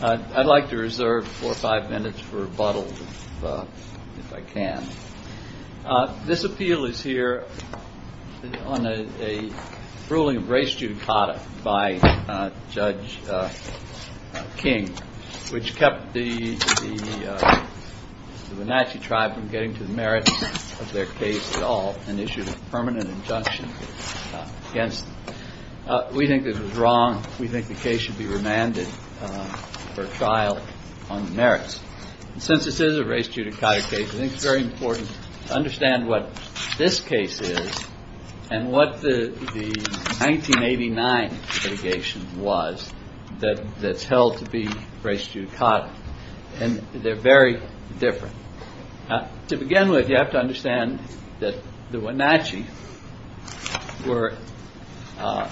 I'd like to reserve four or five minutes for rebuttal if I can. This appeal is here on a ruling of race judicata by Judge King, which kept the Wenatchee Tribe from getting to the merits of their case at all and issued a permanent injunction against them. We think this is wrong. We think the case should be remanded for trial on the merits. Since this is a race judicata case, I think it's very important to understand what this case is and what the 1989 litigation was that's held to be race judicata. They're very different. To begin with, you have to understand that the Wenatchee were a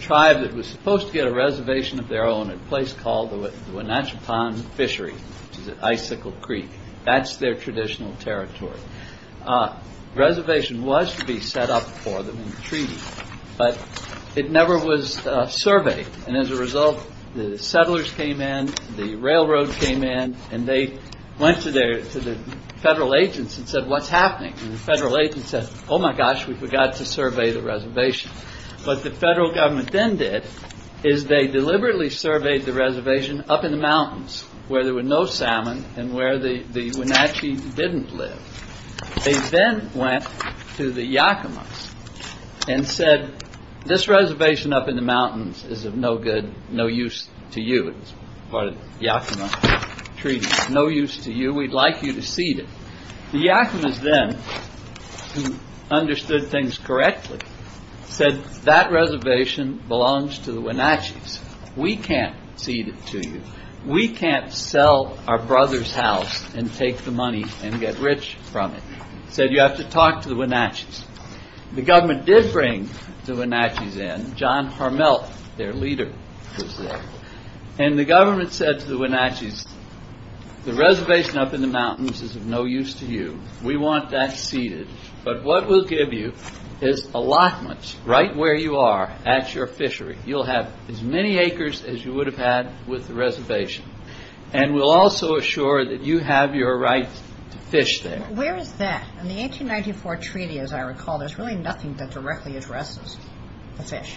tribe that was supposed to get a reservation of their own at a place called the Wenatchee Pond Fishery at Icicle Creek. That's their traditional territory. Reservation was to be set up for them in the treaty, but it never was surveyed. As a result, the settlers came in, the railroad came in, and they went to the federal agents and said, what's happening? The federal agents said, oh my gosh, we forgot to survey the reservation. But the federal government then did is they deliberately surveyed the reservation up in the mountains where there were no salmon and where the Wenatchee didn't live. They then went to the Yakamas and said, this reservation up in the mountains is of no good, no use to you. It was part of Yakama treaty. No use to you. We'd like you to cede it. The Yakamas then understood things correctly, said that reservation belongs to the Wenatchee. We can't cede it to you. We can't sell our brother's house and take the money and get rich from it. Said you have to talk to the Wenatchee. The government did bring the Wenatchee in. John Harmel, their leader, was there. The government said to the Wenatchee, the reservation up in the mountains is of no use to you. We want that ceded, but what we'll give you is allotments right where you are at your fishery. You'll have as many acres as you would have had with the reservation. We'll also assure that you have your right to fish there. Where is that? In the 1894 treaty, as I recall, there's really nothing that directly addresses the fish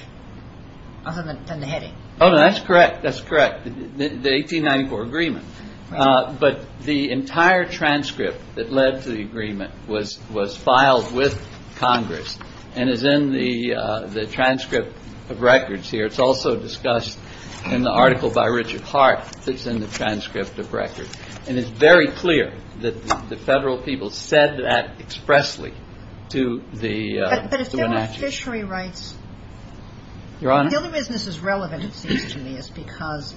other than the heading. Oh, that's correct. That's correct. The 1894 agreement. But the entire transcript that led to the agreement was filed with Congress and is in the transcript of records here. It's also discussed in the article by Richard Hart that's in the transcript of records. And it's very clear that the federal people said that expressly to the Wenatchee. But if there were fishery rights, the only reason this is relevant, it seems to me, is because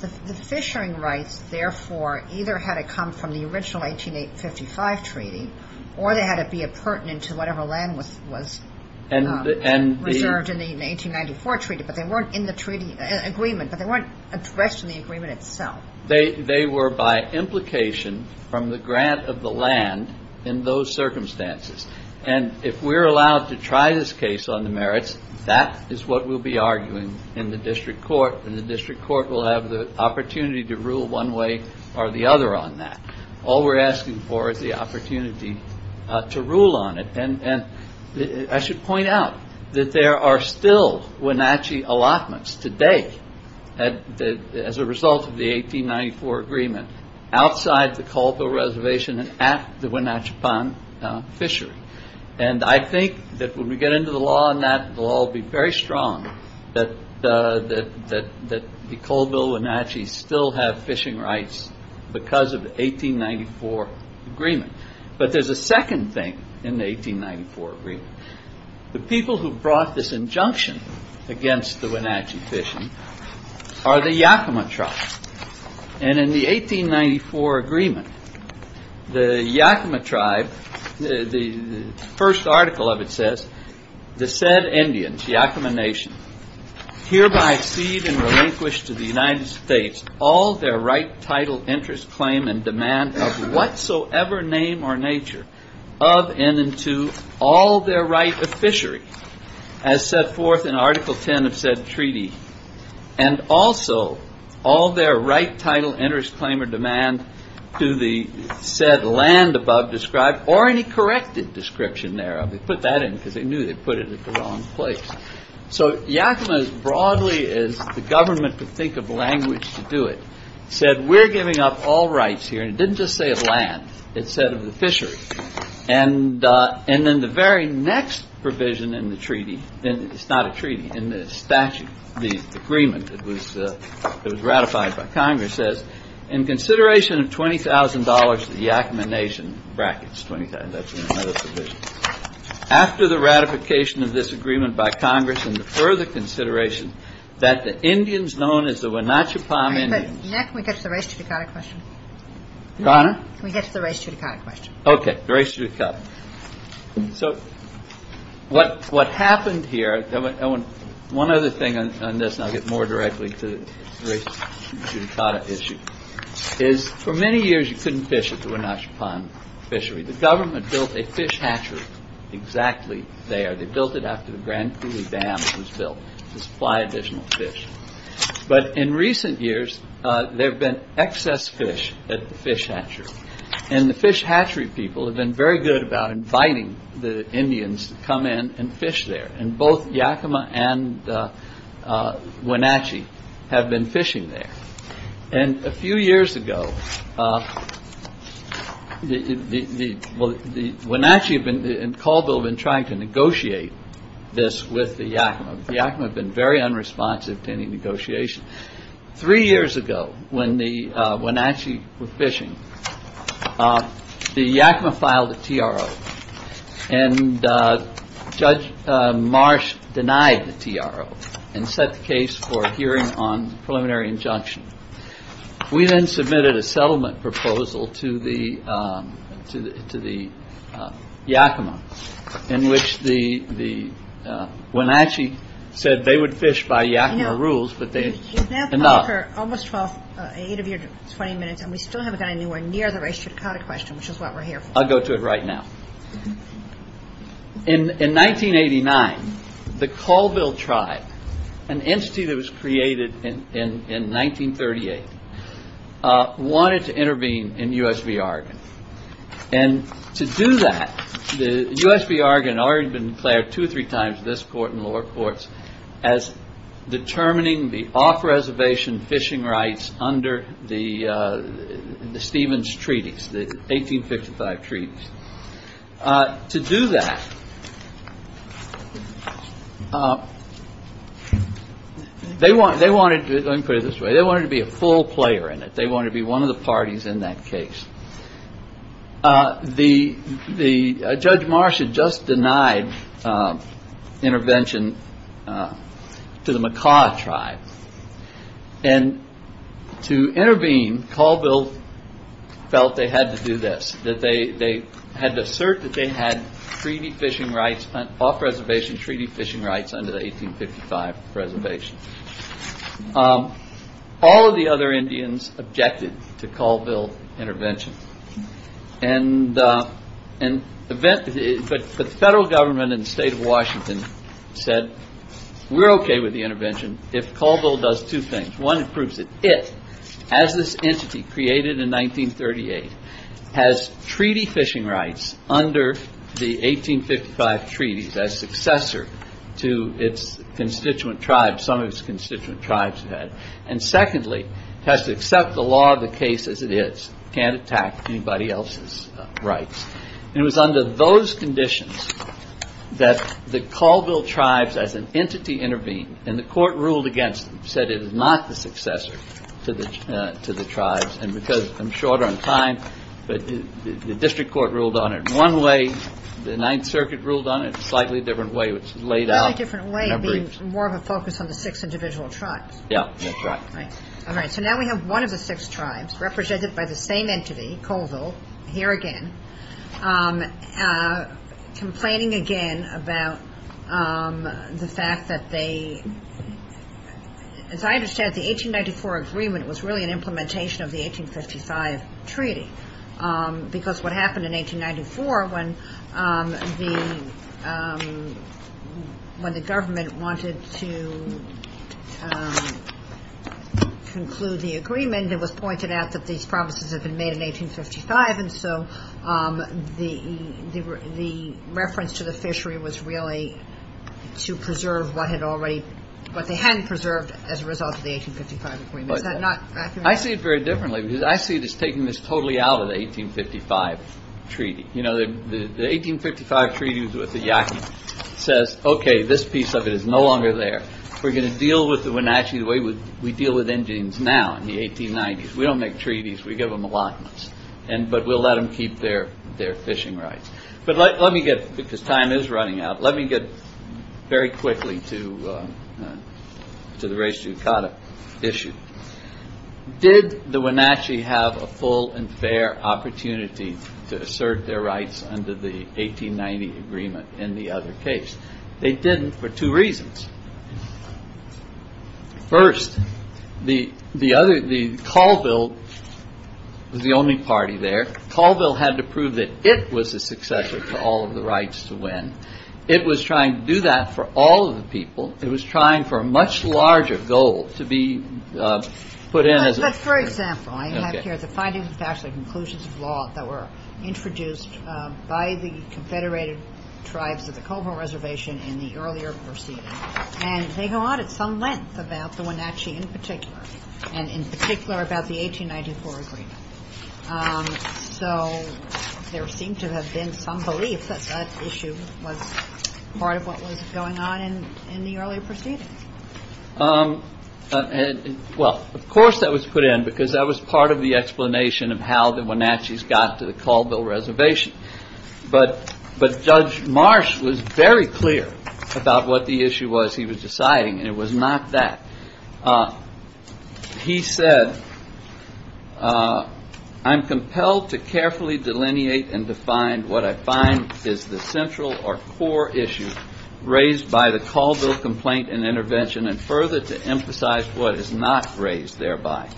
the fishery rights, therefore, either had to come from the original 1855 treaty or they had to be a pertinent to whatever land was reserved in the 1894 treaty. But they weren't in the treaty agreement, but they weren't addressed in the agreement itself. They were by implication from the grant of the land in those circumstances. And if we're allowed to try this case on the merits, that is what we'll be arguing in the district court. And the district court will have the opportunity to rule one way or the other on that. All we're asking for is the opportunity to rule on it. I should point out that there are still Wenatchee allotments today as a result of the 1894 agreement, outside the Colville Reservation and at the Wenatchepan fishery. And I think that when we get into the law on that, the law will be very strong that the Colville Wenatchee still have fishing rights because of the 1894 agreement. But there's a second thing in the 1894 agreement. The people who brought this injunction against the Wenatchee fishing are the Yakama tribe. And in the 1894 agreement, the Yakama tribe, the first article of it says, the said Indians, Yakama nation, hereby cede and relinquish to the United States all their right, title, interest, claim, and demand of whatsoever name or nature of and to all their right of fishery, as set forth in Article 10 of said treaty, and also all their right, title, interest, claim, or demand to the said land above described or any corrected description thereof. They put that in because they knew they put it in the wrong place. So Yakama, as broadly as the government could think of language to do it, said, we're giving up all rights here. And it didn't just say a land. It said of the fishery. And and then the very next provision in the treaty. Then it's not a treaty in this statute. The agreement that was ratified by Congress says, in consideration of 20,000 dollars, the Yakama nation brackets 20,000 dollars. After the ratification of this agreement by Congress and the further consideration that the Indians known as the Wenatchee Palm Indians. Next, we get to the race to the kind of question. We get to the race to the kind of question. OK. Grace, you've got. So what what happened here? One other thing on this and I'll get more directly to the issue is for many years. You couldn't fish at the Wenatchee Palm fishery. The government built a fish hatchery exactly. They are. They built it after the Grand Coulee Dam was built to supply additional fish. But in recent years, there have been excess fish at the fish hatchery and the fish hatchery. People have been very good about inviting the Indians to come in and fish there. And both Yakima and Wenatchee have been fishing there. And a few years ago, the Wenatchee and Caldwell have been trying to negotiate this with the Yakima. The Yakima have been very unresponsive to any negotiation. Three years ago, when the Wenatchee were fishing, the Yakima filed the T.R.O. and Judge Marsh denied the T.R.O. and set the case for a hearing on preliminary injunction. We then submitted a settlement proposal to the to the Yakima in which the Wenatchee said they would fish by Yakima rules. We've now gone for almost 12, 8 of your 20 minutes and we still haven't gotten anywhere near the race to Dakota question, which is what we're here for. I'll go to it right now. In 1989, the Caldwell tribe, an entity that was created in 1938, wanted to intervene in U.S. v. Oregon. And to do that, U.S. v. Oregon had already been declared two or three times in this court and lower courts as determining the off-reservation fishing rights under the Stevens treaties, the 1855 treaties. To do that, they want they wanted to put it this way. They wanted to be a full player in it. They want to be one of the parties in that case. Judge Marsh had just denied intervention to the Makah tribe. And to intervene, Caldwell felt they had to do this, that they had to assert that they had treaty fishing rights, off-reservation treaty fishing rights under the 1855 reservation. All of the other Indians objected to Caldwell intervention and an event. But the federal government in the state of Washington said, we're OK with the intervention if Caldwell does two things. One, it proves that it, as this entity created in 1938, has treaty fishing rights under the 1855 treaties as successor to its constituent tribe. Some of its constituent tribes had. And secondly, it has to accept the law of the case as it is. It can't attack anybody else's rights. And it was under those conditions that the Caldwell tribes as an entity intervened. And the court ruled against them, said it is not the successor to the tribes. And because I'm short on time, the district court ruled on it one way. The Ninth Circuit ruled on it a slightly different way. More of a focus on the six individual tribes. Yeah, that's right. All right. So now we have one of the six tribes represented by the same entity, Caldwell, here again, complaining again about the fact that they, as I understand it, the 1894 agreement was really an implementation of the 1855 treaty. Because what happened in 1894 when the government wanted to conclude the agreement, it was pointed out that these promises had been made in 1855. And so the reference to the fishery was really to preserve what had already, what they hadn't preserved as a result of the 1855 agreement. Is that not accurate? I see it very differently because I see it as taking this totally out of the 1855 treaty. You know, the 1855 treaties with the Yaki says, OK, this piece of it is no longer there. We're going to deal with the Wenatchee the way we deal with Indians now in the 1890s. We don't make treaties. We give them a lot. But we'll let them keep their their fishing rights. But let me get because time is running out. Let me get very quickly to the race to issue. Did the Wenatchee have a full and fair opportunity to assert their rights under the 1890 agreement? In the other case, they didn't for two reasons. First, the the other the Caldwell was the only party there. Caldwell had to prove that it was a successor to all of the rights to win. It was trying to do that for all of the people. It was trying for a much larger goal to be put in. But for example, I have here the findings of actually conclusions of law that were introduced by the confederated tribes of the Coburn Reservation in the earlier proceeding. And they go on at some length about the Wenatchee in particular and in particular about the 1894 agreement. So there seemed to have been some belief that that issue was part of what was going on in the early proceedings. And well, of course, that was put in because that was part of the explanation of how the Wenatchee's got to the Caldwell reservation. But but Judge Marsh was very clear about what the issue was. He was deciding it was not that he said. I'm compelled to carefully delineate and define what I find is the central or core issue raised by the Caldwell complaint and intervention and further to emphasize what is not raised thereby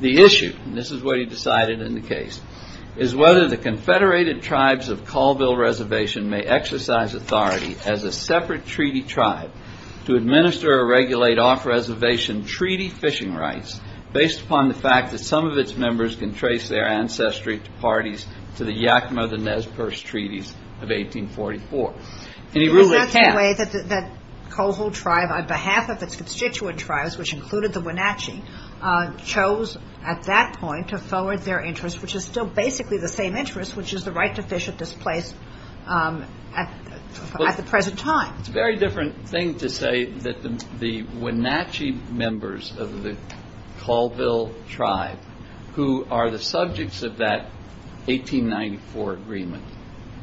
the issue. This is what he decided in the case is whether the confederated tribes of Caldwell reservation may exercise authority as a separate treaty tribe to administer or regulate off-reservation treaty fishing rights based upon the fact that some of its members can trace their ancestry to parties to the Yakima-the-Nez Perce treaties of 1844. And he really can't. That's the way that the Caldwell tribe on behalf of its constituent tribes, which included the Wenatchee, chose at that point to forward their interest, which is still basically the same interest, which is the right to fish at this place at the present time. It's a very different thing to say that the Wenatchee members of the Caldwell tribe, who are the subjects of that 1894 agreement,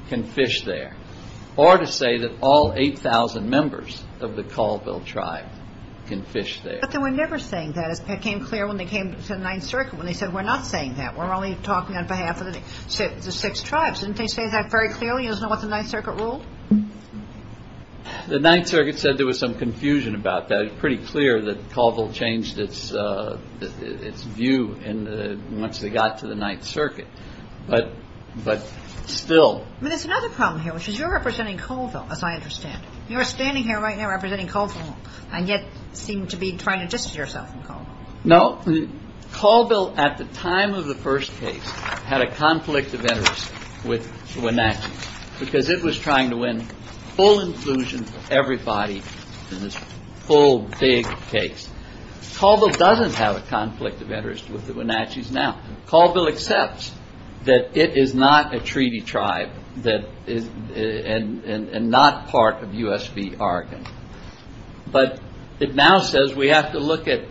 can fish there. Or to say that all 8,000 members of the Caldwell tribe can fish there. But they were never saying that. It became clear when they came to the Ninth Circuit when they said we're not saying that. We're only talking on behalf of the six tribes. Didn't they say that very clearly? You don't know what the Ninth Circuit ruled? The Ninth Circuit said there was some confusion about that. It was pretty clear that Caldwell changed its view once they got to the Ninth Circuit. But still. I mean, there's another problem here, which is you're representing Caldwell, as I understand it. You're standing here right now representing Caldwell and yet seem to be trying to distance yourself from Caldwell. No, Caldwell at the time of the first case had a conflict of interest with Wenatchee because it was trying to win full inclusion for everybody in this whole big case. Caldwell doesn't have a conflict of interest with the Wenatchee's now. Caldwell accepts that it is not a treaty tribe and not part of U.S. v. Oregon. But it now says we have to look at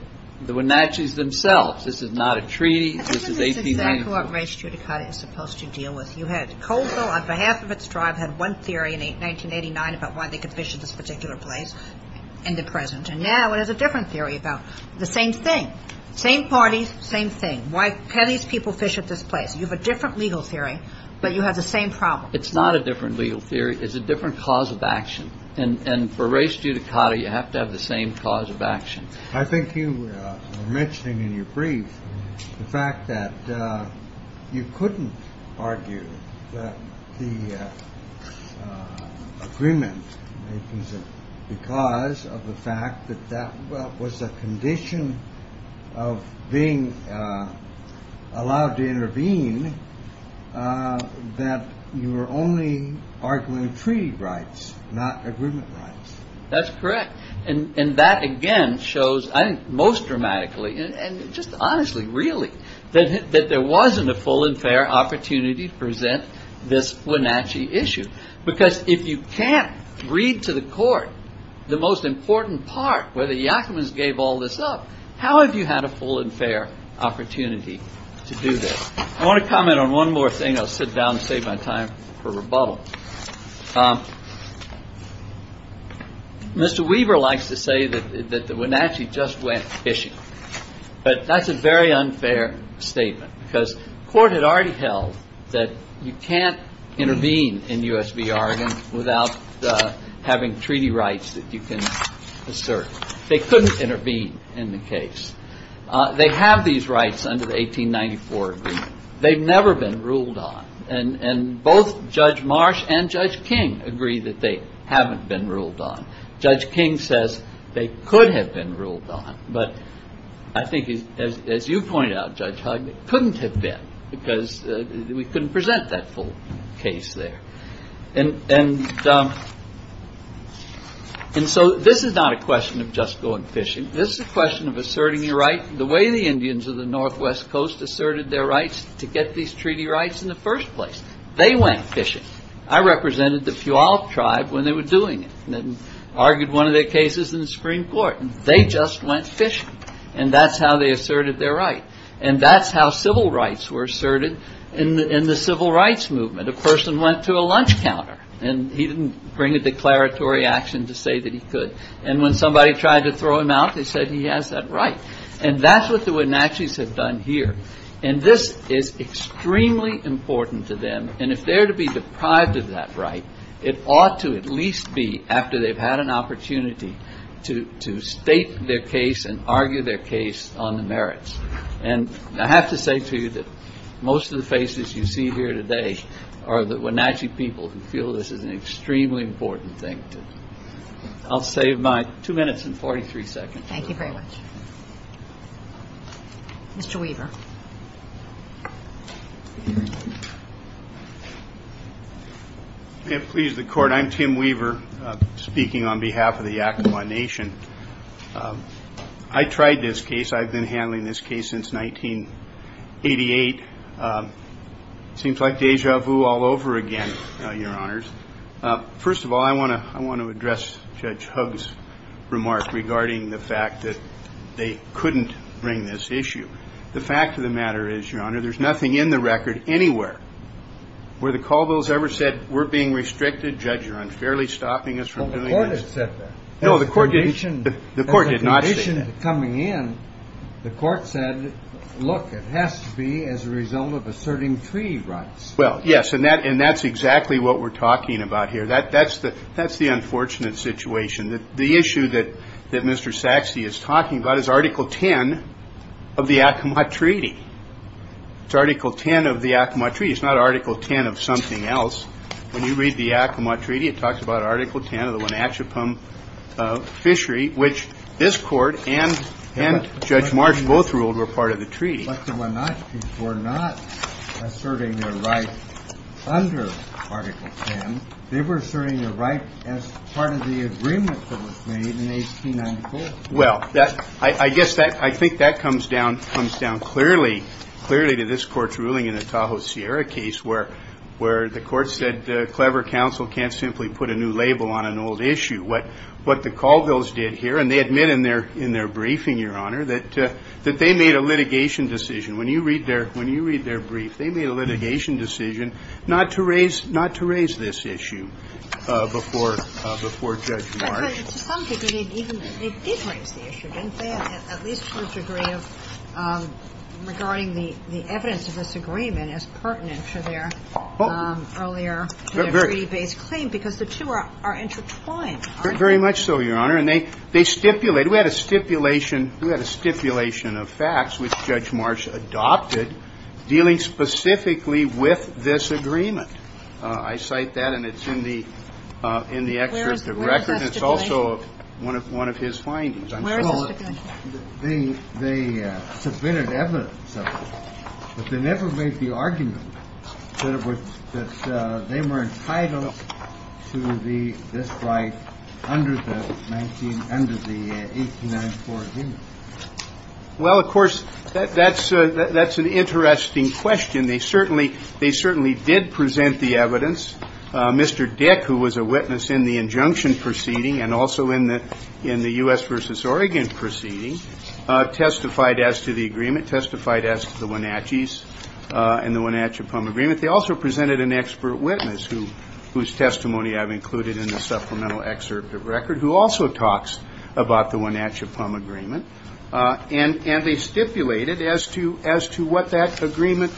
the Wenatchee's themselves. This is not a treaty. This is 1894. I think this is exactly what race judicata is supposed to deal with. You had Caldwell on behalf of its tribe had one theory in 1989 about why they could fish at this particular place in the present. And now it has a different theory about the same thing. Same parties, same thing. Why can't these people fish at this place? You have a different legal theory, but you have the same problem. It's not a different legal theory. It's a different cause of action. And for race judicata, you have to have the same cause of action. I think you were mentioning in your brief the fact that you couldn't argue that the agreement because of the fact that that was a condition of being allowed to intervene, that you were only arguing treaty rights, not agreement rights. That's correct. And that, again, shows most dramatically and just honestly, really, that there wasn't a full and fair opportunity to present this Wenatchee issue. Because if you can't read to the court the most important part where the Yakamans gave all this up, how have you had a full and fair opportunity to do this? I want to comment on one more thing. I'll sit down and save my time for rebuttal. Mr. Weaver likes to say that the Wenatchee just went fishing. But that's a very unfair statement because court had already held that you can't intervene in USBR without having treaty rights that you can assert. They couldn't intervene in the case. They have these rights under the 1894 agreement. They've never been ruled on. And both Judge Marsh and Judge King agree that they haven't been ruled on. Judge King says they could have been ruled on. But I think, as you point out, Judge Huck, it couldn't have been because we couldn't present that full case there. And so this is not a question of just going fishing. This is a question of asserting your right the way the Indians of the northwest coast asserted their rights to get these treaty rights in the first place. They went fishing. I represented the Puyallup tribe when they were doing it and argued one of their cases in the Supreme Court. They just went fishing. And that's how they asserted their right. And that's how civil rights were asserted in the civil rights movement. A person went to a lunch counter, and he didn't bring a declaratory action to say that he could. And when somebody tried to throw him out, they said he has that right. And that's what the Wenatchee's have done here. And this is extremely important to them. And if they're to be deprived of that right, it ought to at least be after they've had an opportunity to state their case and argue their case on the merits. And I have to say to you that most of the faces you see here today are the Wenatchee people who feel this is an extremely important thing. I'll save my two minutes and 43 seconds. Thank you very much. Mr. Weaver. May it please the Court, I'm Tim Weaver, speaking on behalf of the Yakama Nation. I tried this case. I've been handling this case since 1988. Seems like deja vu all over again, Your Honors. First of all, I want to address Judge Huggs' remark regarding the fact that they couldn't bring this issue. The fact of the matter is, Your Honor, there's nothing in the record anywhere where the Caldwells ever said we're being restricted. Judge, you're unfairly stopping us from doing this. Well, the Court has said that. No, the Court did not say that. As a condition to coming in, the Court said, look, it has to be as a result of asserting treaty rights. Well, yes, and that's exactly what we're talking about here. That's the unfortunate situation. The issue that Mr. Sachse is talking about is Article 10 of the Yakama Treaty. It's Article 10 of the Yakama Treaty. It's not Article 10 of something else. When you read the Yakama Treaty, it talks about Article 10 of the Wenatcheepum Fishery, which this Court and Judge Marsh both ruled were part of the treaty. But the Wenatcheeps were not asserting their right under Article 10. They were asserting their right as part of the agreement that was made in 1894. Well, I guess I think that comes down clearly to this Court's ruling in the Tahoe-Sierra case where the Court said clever counsel can't simply put a new label on an old issue. What the Colvilles did here, and they admit in their briefing, Your Honor, that they made a litigation decision. When you read their brief, they made a litigation decision not to raise this issue before Judge Marsh. But to some degree, they did raise the issue, didn't they, at least to a degree of regarding the evidence of this agreement as pertinent to their earlier treaty-based claim? Because the two are intertwined, aren't they? Very much so, Your Honor. And they stipulate. We had a stipulation. We had a stipulation of facts which Judge Marsh adopted dealing specifically with this agreement. I cite that, and it's in the excerpt of the record. Where is that stipulation? It's also one of his findings. Where is the stipulation? Well, they submitted evidence of it. But they never made the argument that they were entitled to this right under the 1894 agreement. Well, of course, that's an interesting question. They certainly did present the evidence. Mr. Dick, who was a witness in the injunction proceeding and also in the U.S. v. Oregon proceeding, testified as to the agreement, testified as to the Wenatchee's and the Wenatchee-Pum agreement. They also presented an expert witness, whose testimony I've included in the supplemental excerpt of the record, who also talks about the Wenatchee-Pum agreement. And they stipulated as to what that agreement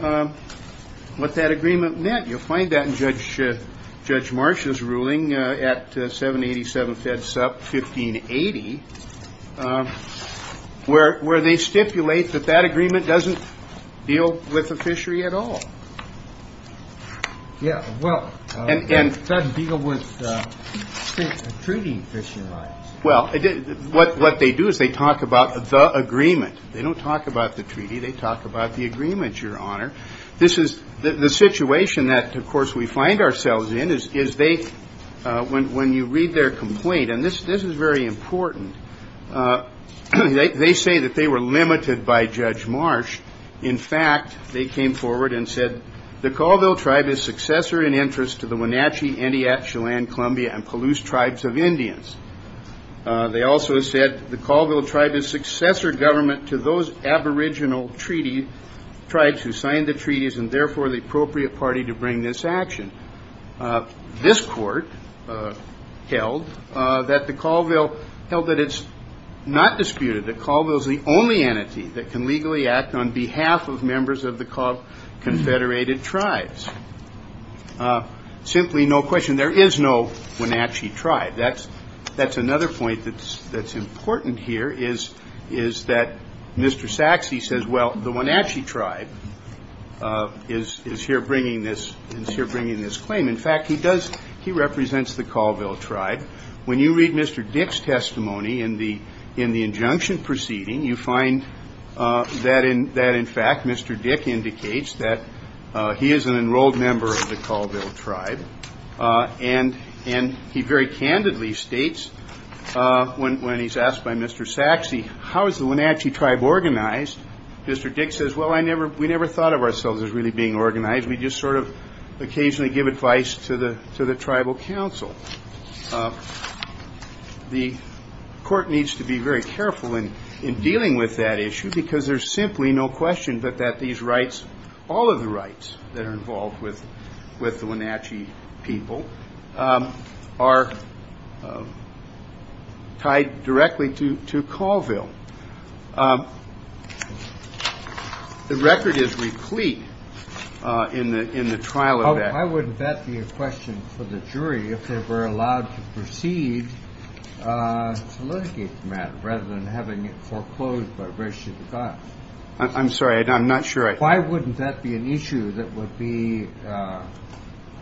meant. You'll find that in Judge Marsh's ruling at 787 Fed Sup, 1580, where they stipulate that that agreement doesn't deal with the fishery at all. Yeah, well, it doesn't deal with treaty fishing rights. Well, what they do is they talk about the agreement. They don't talk about the treaty. They talk about the agreement, Your Honor. This is the situation that, of course, we find ourselves in, is they, when you read their complaint, and this is very important, they say that they were limited by Judge Marsh. In fact, they came forward and said, the Colville tribe is successor in interest to the Wenatchee, Entiat, Chelan, Columbia, and Palouse tribes of Indians. They also said the Colville tribe is successor government to those aboriginal tribes who signed the treaties and, therefore, the appropriate party to bring this action. This court held that the Colville held that it's not disputed that Colville is the only entity that can legally act on behalf of members of the Confederated tribes. Simply, no question, there is no Wenatchee tribe. That's another point that's important here is that Mr. Saxe says, well, the Wenatchee tribe is here bringing this claim. In fact, he represents the Colville tribe. When you read Mr. Dick's testimony in the injunction proceeding, you find that, in fact, Mr. Dick indicates that he is an enrolled member of the Colville tribe, and he very candidly states when he's asked by Mr. Saxe, how is the Wenatchee tribe organized? Mr. Dick says, well, we never thought of ourselves as really being organized. We just sort of occasionally give advice to the tribal council. The court needs to be very careful in dealing with that issue because there's simply no question but that these rights, all of the rights that are involved with the Wenatchee people, are tied directly to Colville. The record is replete in the trial of that. I would bet the question for the jury, if they were allowed to proceed, to litigate the matter rather than having it foreclosed by ratio to God. I'm sorry, I'm not sure. Why wouldn't that be an issue that would be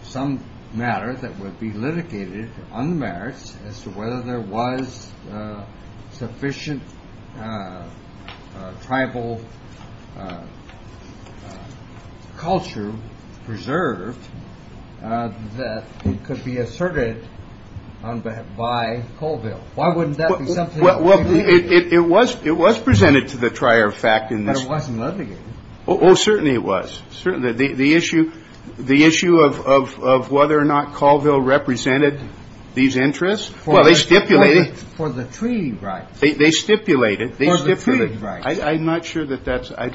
some matter that would be litigated on the merits as to whether there was sufficient tribal culture preserved that could be asserted by Colville? Why wouldn't that be something? Well, it was presented to the trier of fact in this. But it wasn't litigated. Oh, certainly it was. Certainly. The issue of whether or not Colville represented these interests, well, they stipulated. For the treaty rights. They stipulated. For the treaty rights. I'm not sure that that's – I'm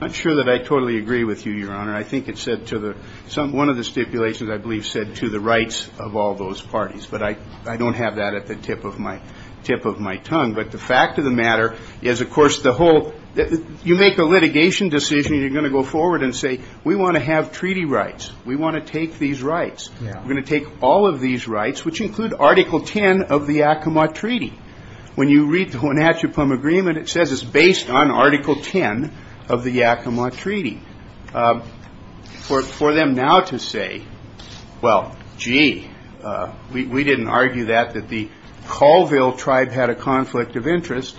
not sure that I totally agree with you, Your Honor. I think it said to the – one of the stipulations, I believe, said to the rights of all those parties, but I don't have that at the tip of my tongue. But the fact of the matter is, of course, the whole – you make a litigation decision. You're going to go forward and say, we want to have treaty rights. We want to take these rights. We're going to take all of these rights, which include Article 10 of the Yakima Treaty. When you read the Wenatchee Pum Agreement, it says it's based on Article 10 of the Yakima Treaty. For them now to say, well, gee, we didn't argue that, that the Colville tribe had a conflict of interest,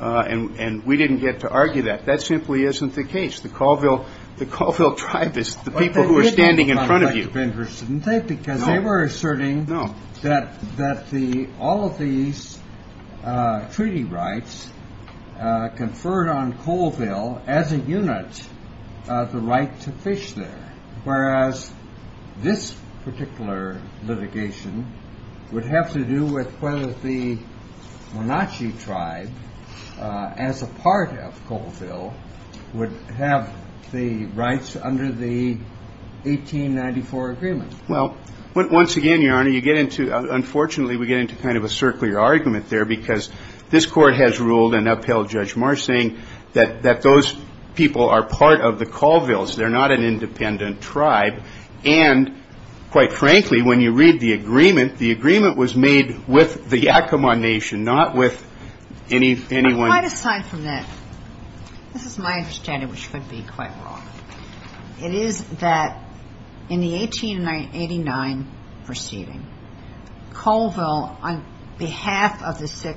and we didn't get to argue that, that simply isn't the case. The Colville – the Colville tribe is the people who are standing in front of you. Because they were asserting that all of these treaty rights conferred on Colville as a unit of the right to fish there, whereas this particular litigation would have to do with whether the Wenatchee tribe, as a part of Colville, would have the rights under the 1894 agreement. Well, once again, Your Honor, you get into – unfortunately, we get into kind of a circular argument there, because this Court has ruled and upheld Judge Marsh, saying that those people are part of the Colvilles. They're not an independent tribe. And, quite frankly, when you read the agreement, the agreement was made with the Yakima Nation, not with anyone – But quite aside from that, this is my understanding, which could be quite wrong. It is that in the 1889 proceeding, Colville, on behalf of six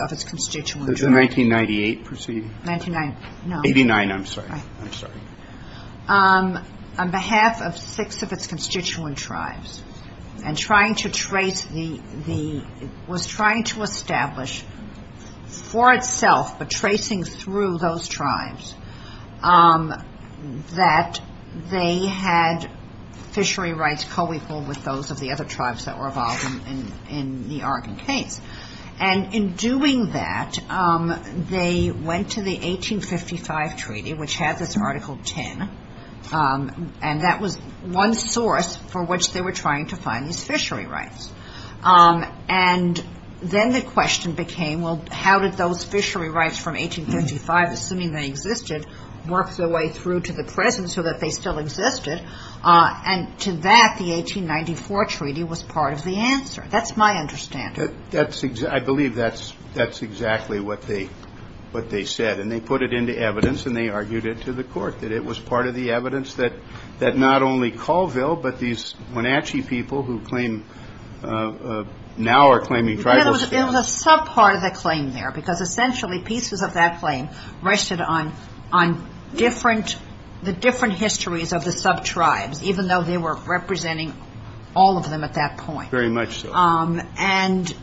of its constituent tribes – Was it the 1998 proceeding? 1989, no. 89, I'm sorry. I'm sorry. On behalf of six of its constituent tribes, and trying to trace the – was trying to establish for itself, but tracing through those tribes, that they had fishery rights co-equal with those of the other tribes that were involved in the Argon case. And in doing that, they went to the 1855 treaty, which has this Article 10, and that was one source for which they were trying to find these fishery rights. And then the question became, well, how did those fishery rights from 1855, assuming they existed, work their way through to the present so that they still existed? And to that, the 1894 treaty was part of the answer. That's my understanding. I believe that's exactly what they said. And they put it into evidence, and they argued it to the court, that it was part of the evidence that not only Colville, but these Wenatchee people who now are claiming tribal – It was a sub-part of the claim there, because essentially pieces of that claim rested on different – the different histories of the sub-tribes, even though they were representing all of them at that point. Very much so. And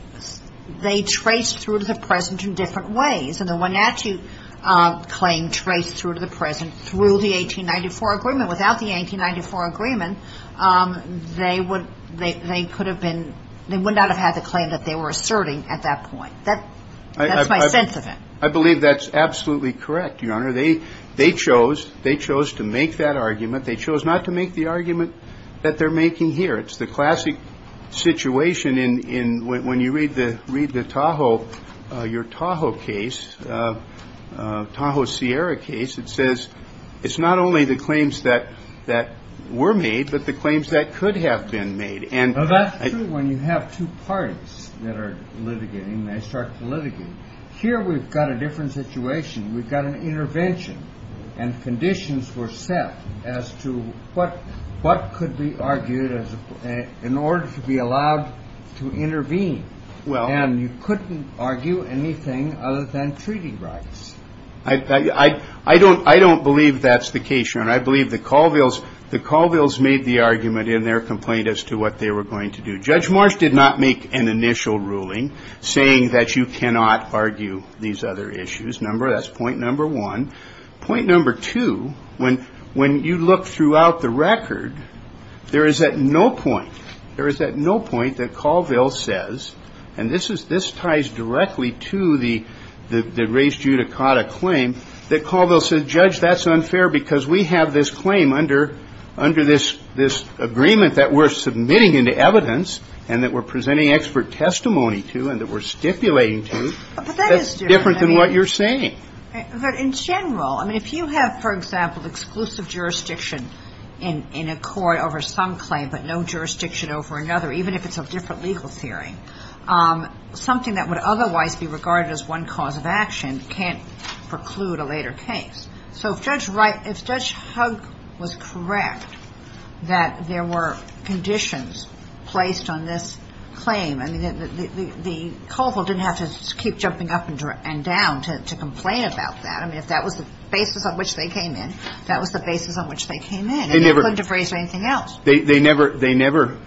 they traced through to the present in different ways. And the Wenatchee claim traced through to the present through the 1894 agreement. Without the 1894 agreement, they would – they could have been – they would not have had the claim that they were asserting at that point. That's my sense of it. I believe that's absolutely correct, Your Honor. They chose – they chose to make that argument. They chose not to make the argument that they're making here. It's the classic situation in – when you read the – read the Tahoe – your Tahoe case, Tahoe Sierra case, it says it's not only the claims that were made, but the claims that could have been made. Well, that's true when you have two parties that are litigating, and they start to litigate. Here we've got a different situation. We've got an intervention, and conditions were set as to what could be argued in order to be allowed to intervene. Well – And you couldn't argue anything other than treaty rights. I don't believe that's the case, Your Honor. I believe the Colvilles – the Colvilles made the argument in their complaint as to what they were going to do. Judge Marsh did not make an initial ruling saying that you cannot argue these other issues. That's point number one. Point number two, when – when you look throughout the record, there is at no point – there is at no point that Colvilles says – and this is – this ties directly to the – the race judicata claim – that Colvilles said, Judge, that's unfair because we have this claim under – under this – this agreement that we're submitting into evidence and that we're presenting expert testimony to and that we're stipulating to. But that is different. That's different than what you're saying. But in general – I mean, if you have, for example, exclusive jurisdiction in – in a court over some claim but no jurisdiction over another, even if it's a different legal theory, something that would otherwise be regarded as one cause of action can't preclude a later case. So if Judge Wright – if Judge Hugg was correct that there were conditions placed on this claim – I mean, the – the Colvilles didn't have to keep jumping up and down to complain about that. I mean, if that was the basis on which they came in, that was the basis on which they came in. And they couldn't have raised anything else. They never – they never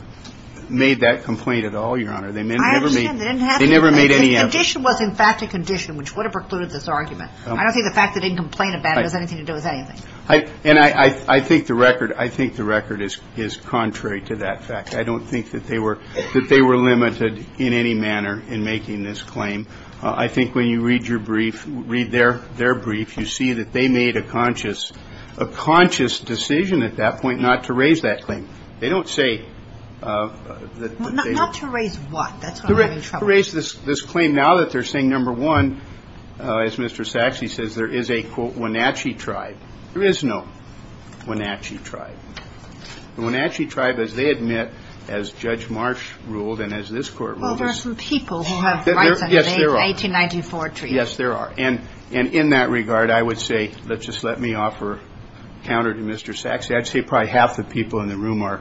made that complaint at all, Your Honor. I understand. They didn't have to. They never made any effort. The condition was, in fact, a condition which would have precluded this argument. I don't think the fact they didn't complain about it has anything to do with anything. And I think the record – I think the record is contrary to that fact. I don't think that they were – that they were limited in any manner in making this claim. I think when you read your brief, read their – their brief, you see that they made a conscious – a conscious decision at that point not to raise that claim. They don't say that they – Not to raise what? That's what I'm having trouble with. To raise this claim now that they're saying, number one, as Mr. Sachse says, there is a, quote, Wenatchee tribe. There is no Wenatchee tribe. The Wenatchee tribe, as they admit, as Judge Marsh ruled and as this Court ruled is – Well, there are some people who have rights under the 1894 treaty. Yes, there are. Yes, there are. And in that regard, I would say, let's just let me offer counter to Mr. Sachse. I'd say probably half the people in the room are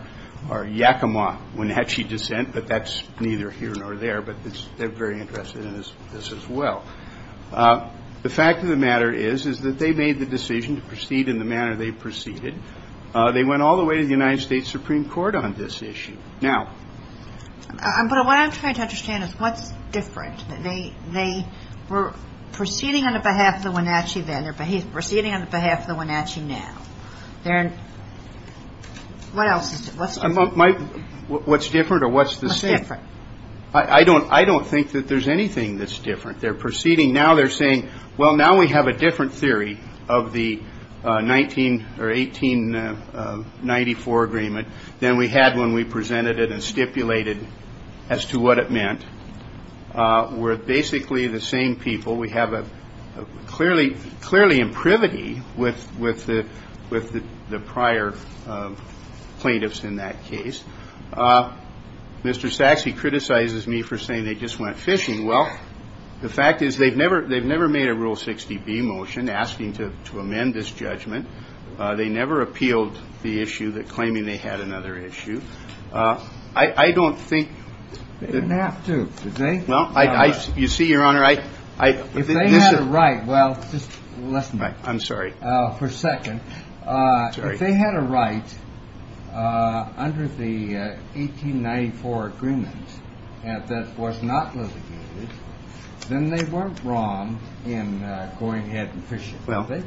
Yakama Wenatchee descent, but that's neither here nor there. But they're very interested in this as well. The fact of the matter is, is that they made the decision to proceed in the manner they proceeded. They went all the way to the United States Supreme Court on this issue. Now – But what I'm trying to understand is what's different? They were proceeding on behalf of the Wenatchee then, but he's proceeding on behalf of the Wenatchee now. They're – what else is – what's different? What's different or what's the same? What's different? I don't think that there's anything that's different. They're proceeding. Now they're saying, well, now we have a different theory of the 19 – or 1894 agreement than we had when we presented it and stipulated as to what it meant. We're basically the same people. We have a clearly imprivity with the prior plaintiffs in that case. Mr. Sachse criticizes me for saying they just went fishing. Well, the fact is they've never made a Rule 60B motion asking to amend this judgment. They never appealed the issue claiming they had another issue. I don't think – They didn't have to, did they? Well, I – you see, Your Honor, I – If they had a right – well, just listen. I'm sorry. For a second. Sorry. If they had a right under the 1894 agreement that was not litigated, then they weren't wrong in going ahead and fishing, were they?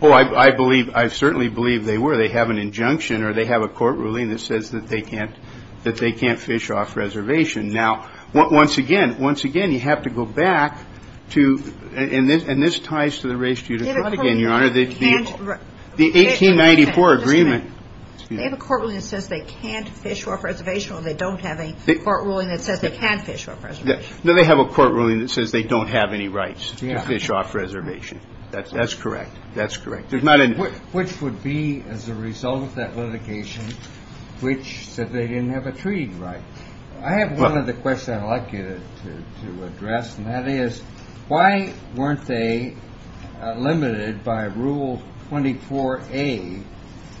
Well, I believe – I certainly believe they were. They have an injunction or they have a court ruling that says that they can't – that they can't fish off reservation. Now, once again, once again, you have to go back to – and this ties to the race to the front again, Your Honor. The 1894 agreement – They have a court ruling that says they can't fish off reservation or they don't have a court ruling that says they can fish off reservation. No, they have a court ruling that says they don't have any rights to fish off reservation. That's correct. That's correct. There's not a – Which would be as a result of that litigation which said they didn't have a treaty right. I have one other question I'd like you to address, and that is why weren't they limited by Rule 24A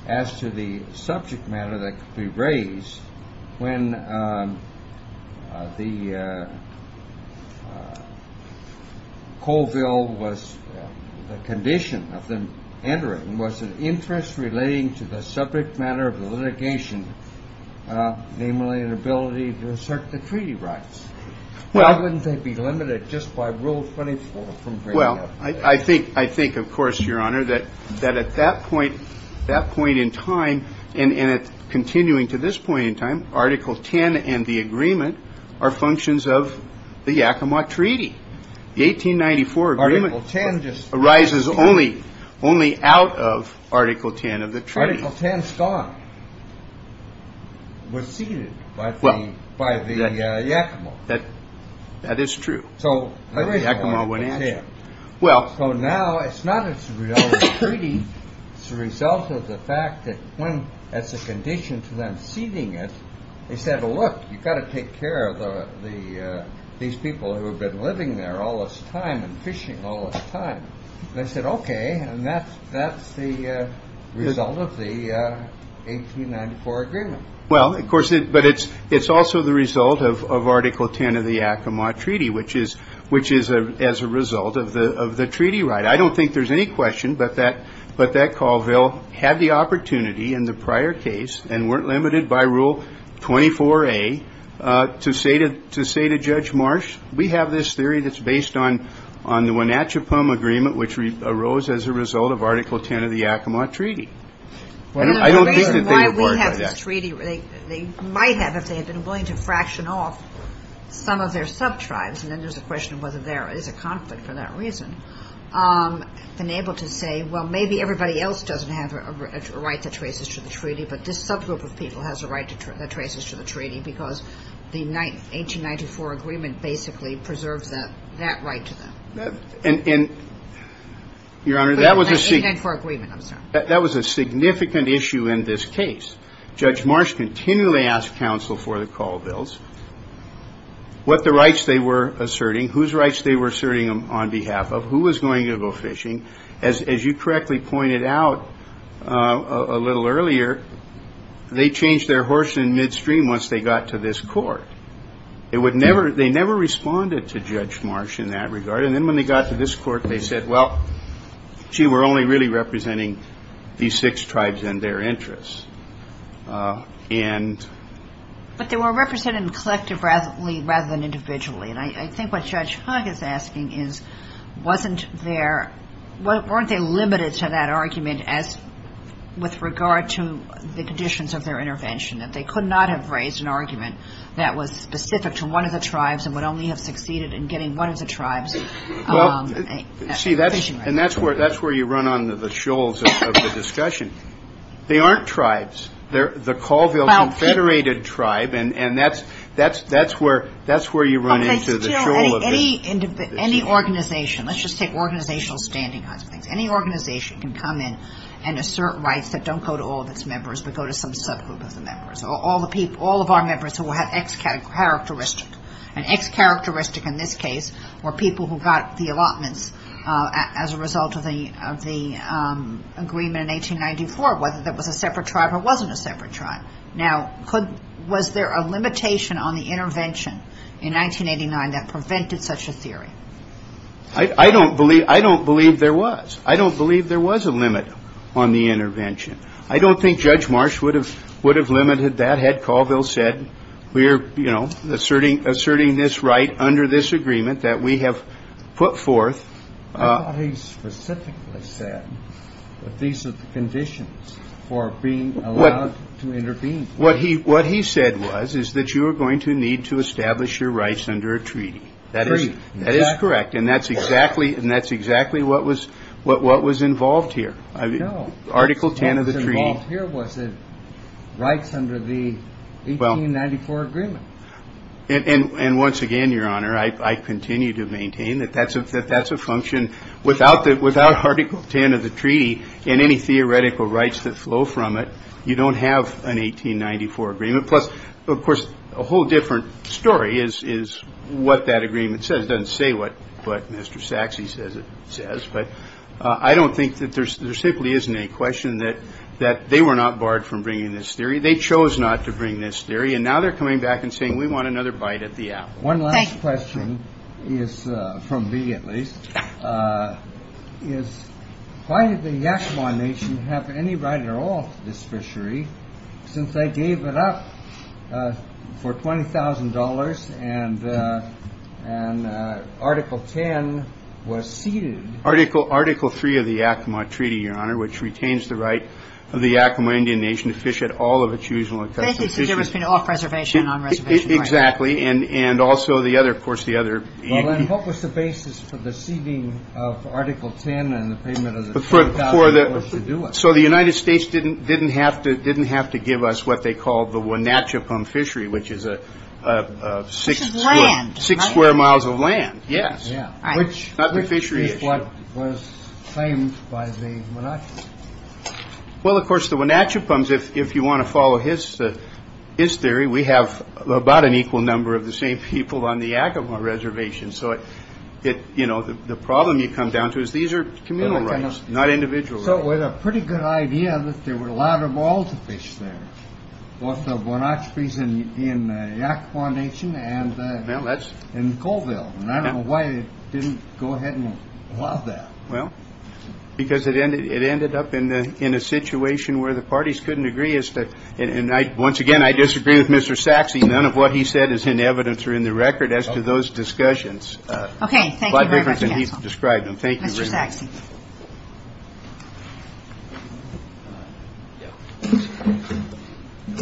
as to the subject matter that could be raised when the Coalville was – the condition of them entering was an interest relating to the subject matter of the litigation, namely an ability to assert the treaty rights. Why wouldn't they be limited just by Rule 24? Well, I think, of course, Your Honor, that at that point in time and continuing to this point in time, Article 10 and the agreement are functions of the Yakima Treaty. The 1894 agreement – Article 10 just – Arises only out of Article 10 of the treaty. Article 10 stock was ceded by the Yakima. That is true. The Yakima wouldn't answer. So now it's not as a result of the treaty. It's the result of the fact that when, as a condition to them ceding it, they said, look, you've got to take care of these people who have been living there all this time and fishing all this time. They said, okay, and that's the result of the 1894 agreement. Well, of course, but it's also the result of Article 10 of the Yakima Treaty, which is as a result of the treaty right. I don't think there's any question but that Colville had the opportunity in the prior case and weren't limited by Rule 24A to say to Judge Marsh, we have this theory that's based on the Wenatchipum Agreement, which arose as a result of Article 10 of the Yakima Treaty. The reason why we have this treaty, they might have if they had been willing to fraction off some of their sub-tribes, and then there's a question of whether there is a conflict for that reason, been able to say, well, maybe everybody else doesn't have a right that traces to the treaty, but this subgroup of people has a right that traces to the treaty because the 1894 agreement basically preserves that right to them. Your Honor, that was a significant issue in this case. Judge Marsh continually asked counsel for the Colvilles, what the rights they were asserting, whose rights they were asserting on behalf of, who was going to go fishing. As you correctly pointed out a little earlier, they changed their horse in midstream once they got to this court. They never responded to Judge Marsh in that regard. And then when they got to this court, they said, well, gee, we're only really representing these six tribes and their interests. But they were represented collectively rather than individually. And I think what Judge Hug is asking is, weren't they limited to that argument with regard to the conditions of their intervention, that they could not have raised an argument that was specific to one of the tribes and would only have succeeded in getting one of the tribes fishing rights? See, and that's where you run on the shoals of the discussion. They aren't tribes. They're the Colville Confederated tribe, and that's where you run into the shoal of it. Any organization, let's just take organizational standing on some things, any organization can come in and assert rights that don't go to all of its members but go to some subgroup of the members, all of our members who have X characteristic. And X characteristic in this case were people who got the allotments as a result of the agreement in 1894, whether that was a separate tribe or wasn't a separate tribe. Now, was there a limitation on the intervention in 1989 that prevented such a theory? I don't believe there was. I don't believe there was a limit on the intervention. I don't think Judge Marsh would have limited that had Colville said, we're, you know, asserting this right under this agreement that we have put forth. I thought he specifically said that these are the conditions for being allowed to intervene. What he said was is that you are going to need to establish your rights under a treaty. A treaty. That is correct, and that's exactly what was involved here. No. Article 10 of the treaty. What was involved here was rights under the 1894 agreement. And once again, Your Honor, I continue to maintain that that's a function without Article 10 of the treaty and any theoretical rights that flow from it, you don't have an 1894 agreement. Plus, of course, a whole different story is what that agreement says. It doesn't say what Mr. Saxe says it says. But I don't think that there simply isn't a question that they were not barred from bringing this theory. They chose not to bring this theory. And now they're coming back and saying we want another bite at the apple. One last question is from me, at least, is why did the Yakama Nation have any right at all to this fishery since they gave it up for $20,000 and Article 10 was ceded? Article 3 of the Yakama Treaty, Your Honor, which retains the right of the Yakama Indian Nation to fish at all of its usual and custom fisheries. So there was off-reservation and on-reservation. And also the other, of course, the other. Well, then what was the basis for the ceding of Article 10 and the payment of the $20,000 to do it? So the United States didn't have to give us what they called the Wenatchipun fishery, which is six square miles of land. Yes. Which is what was claimed by the Wenatchipun. Well, of course, the Wenatchipun, if you want to follow his theory, we have about an equal number of the same people on the Yakama reservation. So, you know, the problem you come down to is these are communal rights, not individual rights. So with a pretty good idea that there were a lot of oil to fish there, both the Wenatchipun in the Yakama Nation and in Colville. And I don't know why they didn't go ahead and allow that. Well, because it ended up in a situation where the parties couldn't agree. And once again, I disagree with Mr. Saxe. None of what he said is in evidence or in the record as to those discussions. Okay. Thank you very much, counsel. A lot different than he's described them. Thank you very much. Mr. Saxe.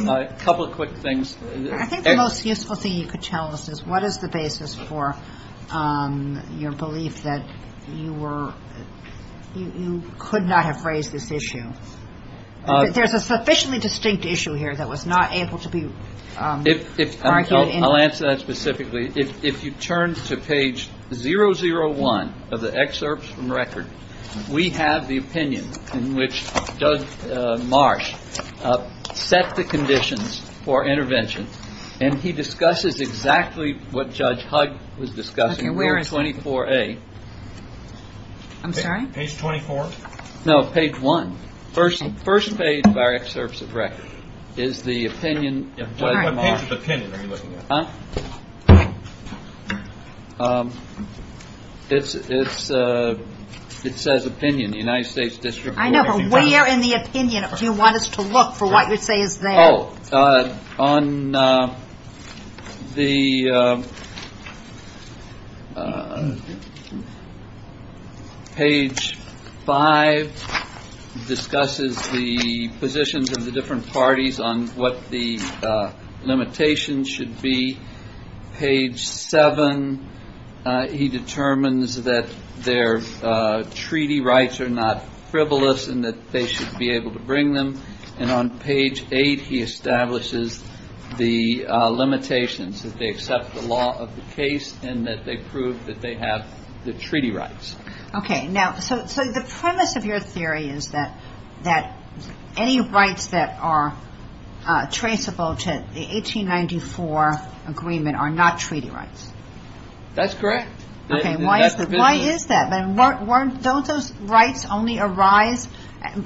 A couple of quick things. I think the most useful thing you could tell us is what is the basis for your belief that you were you could not have raised this issue? There's a sufficiently distinct issue here that was not able to be argued. I'll answer that specifically. If you turn to page zero zero one of the excerpts from record, we have the opinion in which Doug Marsh set the conditions for intervention. And he discusses exactly what Judge Hugg was discussing. Where is 24 a. I'm sorry. Page 24. No, page one. First, the first page of our excerpts of record is the opinion. It's it's it says opinion. The United States district. I never wear in the opinion. Do you want us to look for what you say is that on the. Page five discusses the positions of the different parties on what the limitations should be. Page seven. He determines that their treaty rights are not frivolous and that they should be able to bring them. And on page eight, he establishes the limitations that they accept the law of the case and that they prove that they have the treaty rights. Okay. Now, so the premise of your theory is that that any rights that are traceable to the 1894 agreement are not treaty rights. That's correct. Why is that? Why is that? Those rights only arise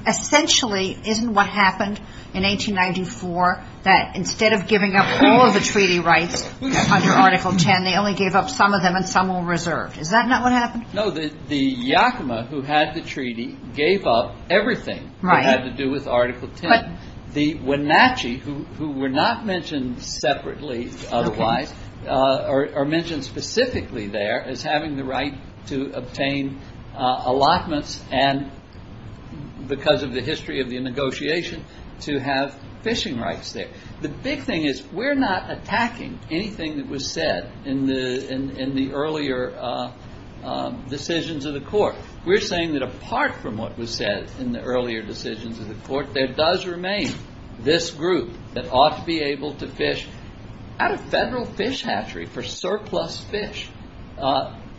essentially isn't what happened in 1894, that instead of giving up all of the treaty rights under Article 10, they only gave up some of them and some were reserved. Is that not what happened? No. The Yakima who had the treaty gave up everything. Right. Had to do with Article 10. And the Wenatchee who were not mentioned separately otherwise are mentioned specifically there as having the right to obtain allotments and because of the history of the negotiation to have fishing rights there. The big thing is we're not attacking anything that was said in the earlier decisions of the court. We're saying that apart from what was said in the earlier decisions of the court, there does remain this group that ought to be able to fish out of federal fish hatchery for surplus fish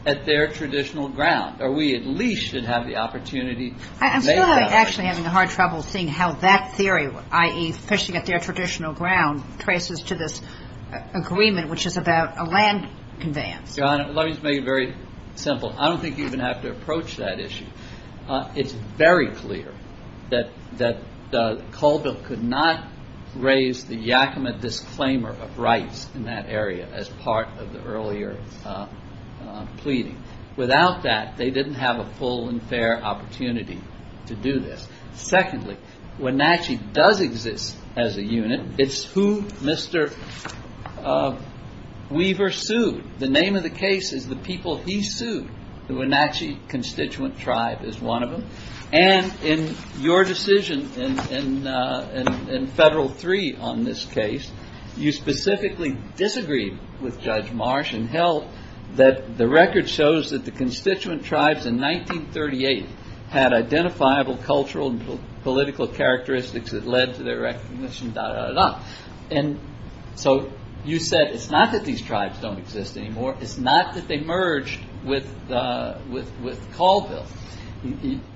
at their traditional ground or we at least should have the opportunity. I'm still actually having a hard trouble seeing how that theory, i.e. fishing at their traditional ground, traces to this agreement which is about a land conveyance. Donna, let me just make it very simple. I don't think you even have to approach that issue. It's very clear that Colville could not raise the Yakima disclaimer of rights in that area as part of the earlier pleading. Without that, they didn't have a full and fair opportunity to do this. Secondly, Wenatchee does exist as a unit. It's who Mr. Weaver sued. The name of the case is the people he sued. The Wenatchee constituent tribe is one of them. In your decision in federal three on this case, you specifically disagreed with Judge Marsh and held that the record shows that the constituent tribes in 1938 had identifiable cultural and political characteristics that led to their recognition. You said it's not that these tribes don't exist anymore. It's not that they merged with Colville.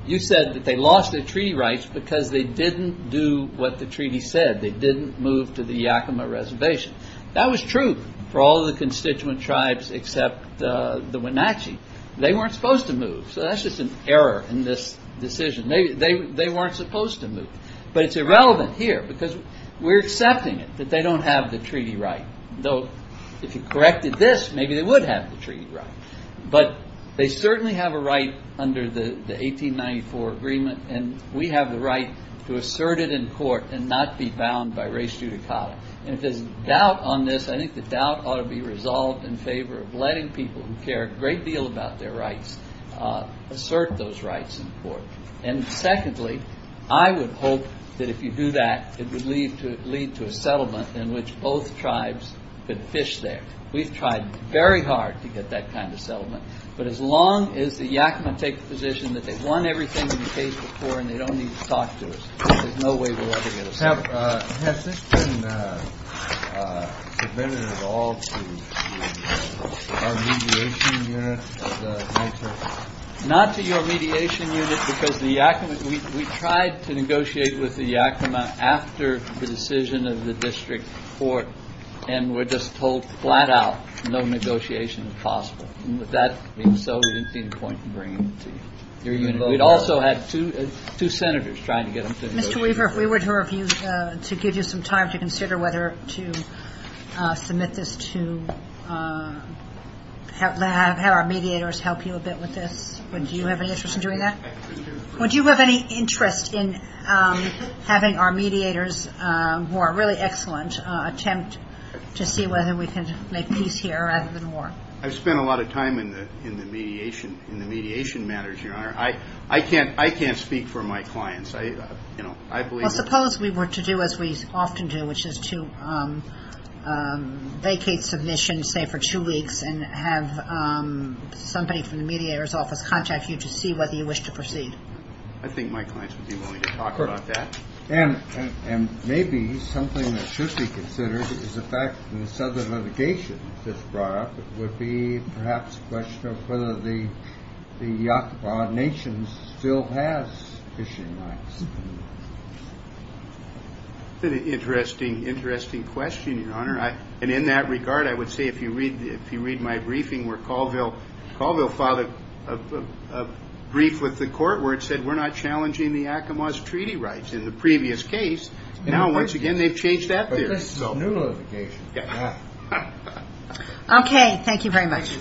You said that they lost their treaty rights because they didn't do what the treaty said. They didn't move to the Yakima reservation. That was true for all the constituent tribes except the Wenatchee. They weren't supposed to move. That's just an error in this decision. They weren't supposed to move. It's irrelevant here because we're accepting it that they don't have the treaty right. If you corrected this, maybe they would have the treaty right. They certainly have a right under the 1894 agreement. We have the right to assert it in court and not be bound by res judicata. If there's doubt on this, I think the doubt ought to be resolved in favor of letting people who care a great deal about their rights assert those rights in court. And secondly, I would hope that if you do that, it would lead to a settlement in which both tribes could fish there. We've tried very hard to get that kind of settlement. But as long as the Yakima take the position that they've won everything in the case before and they don't need to talk to us, there's no way we'll ever get a settlement. Has this been submitted at all to our mediation unit? Not to your mediation unit because the Yakima, we tried to negotiate with the Yakima after the decision of the district court and were just told flat out no negotiation is possible. And with that being so, we didn't see any point in bringing it to your unit. We'd also had two senators trying to get them to negotiate. Mr. Weaver, if we were to give you some time to consider whether to submit this to have our mediators help you a bit with this, would you have any interest in doing that? Would you have any interest in having our mediators, who are really excellent, attempt to see whether we can make peace here rather than war? I've spent a lot of time in the mediation matters, Your Honor. I can't speak for my clients. Well, suppose we were to do as we often do, which is to vacate submissions, say, for two weeks and have somebody from the mediator's office contact you to see whether you wish to proceed. I think my clients would be willing to talk about that. And maybe something that should be considered is the fact that in the southern litigation that's brought up, it would be perhaps a question of whether the Yakama Nation still has fishing rights. That's an interesting question, Your Honor. And in that regard, I would say if you read my briefing where Colville filed a brief with the court where it said we're not challenging the Yakama's treaty rights in the previous case. Now, once again, they've changed that there. But this is a new litigation. Okay. Thank you very much. Thank you. Thank you.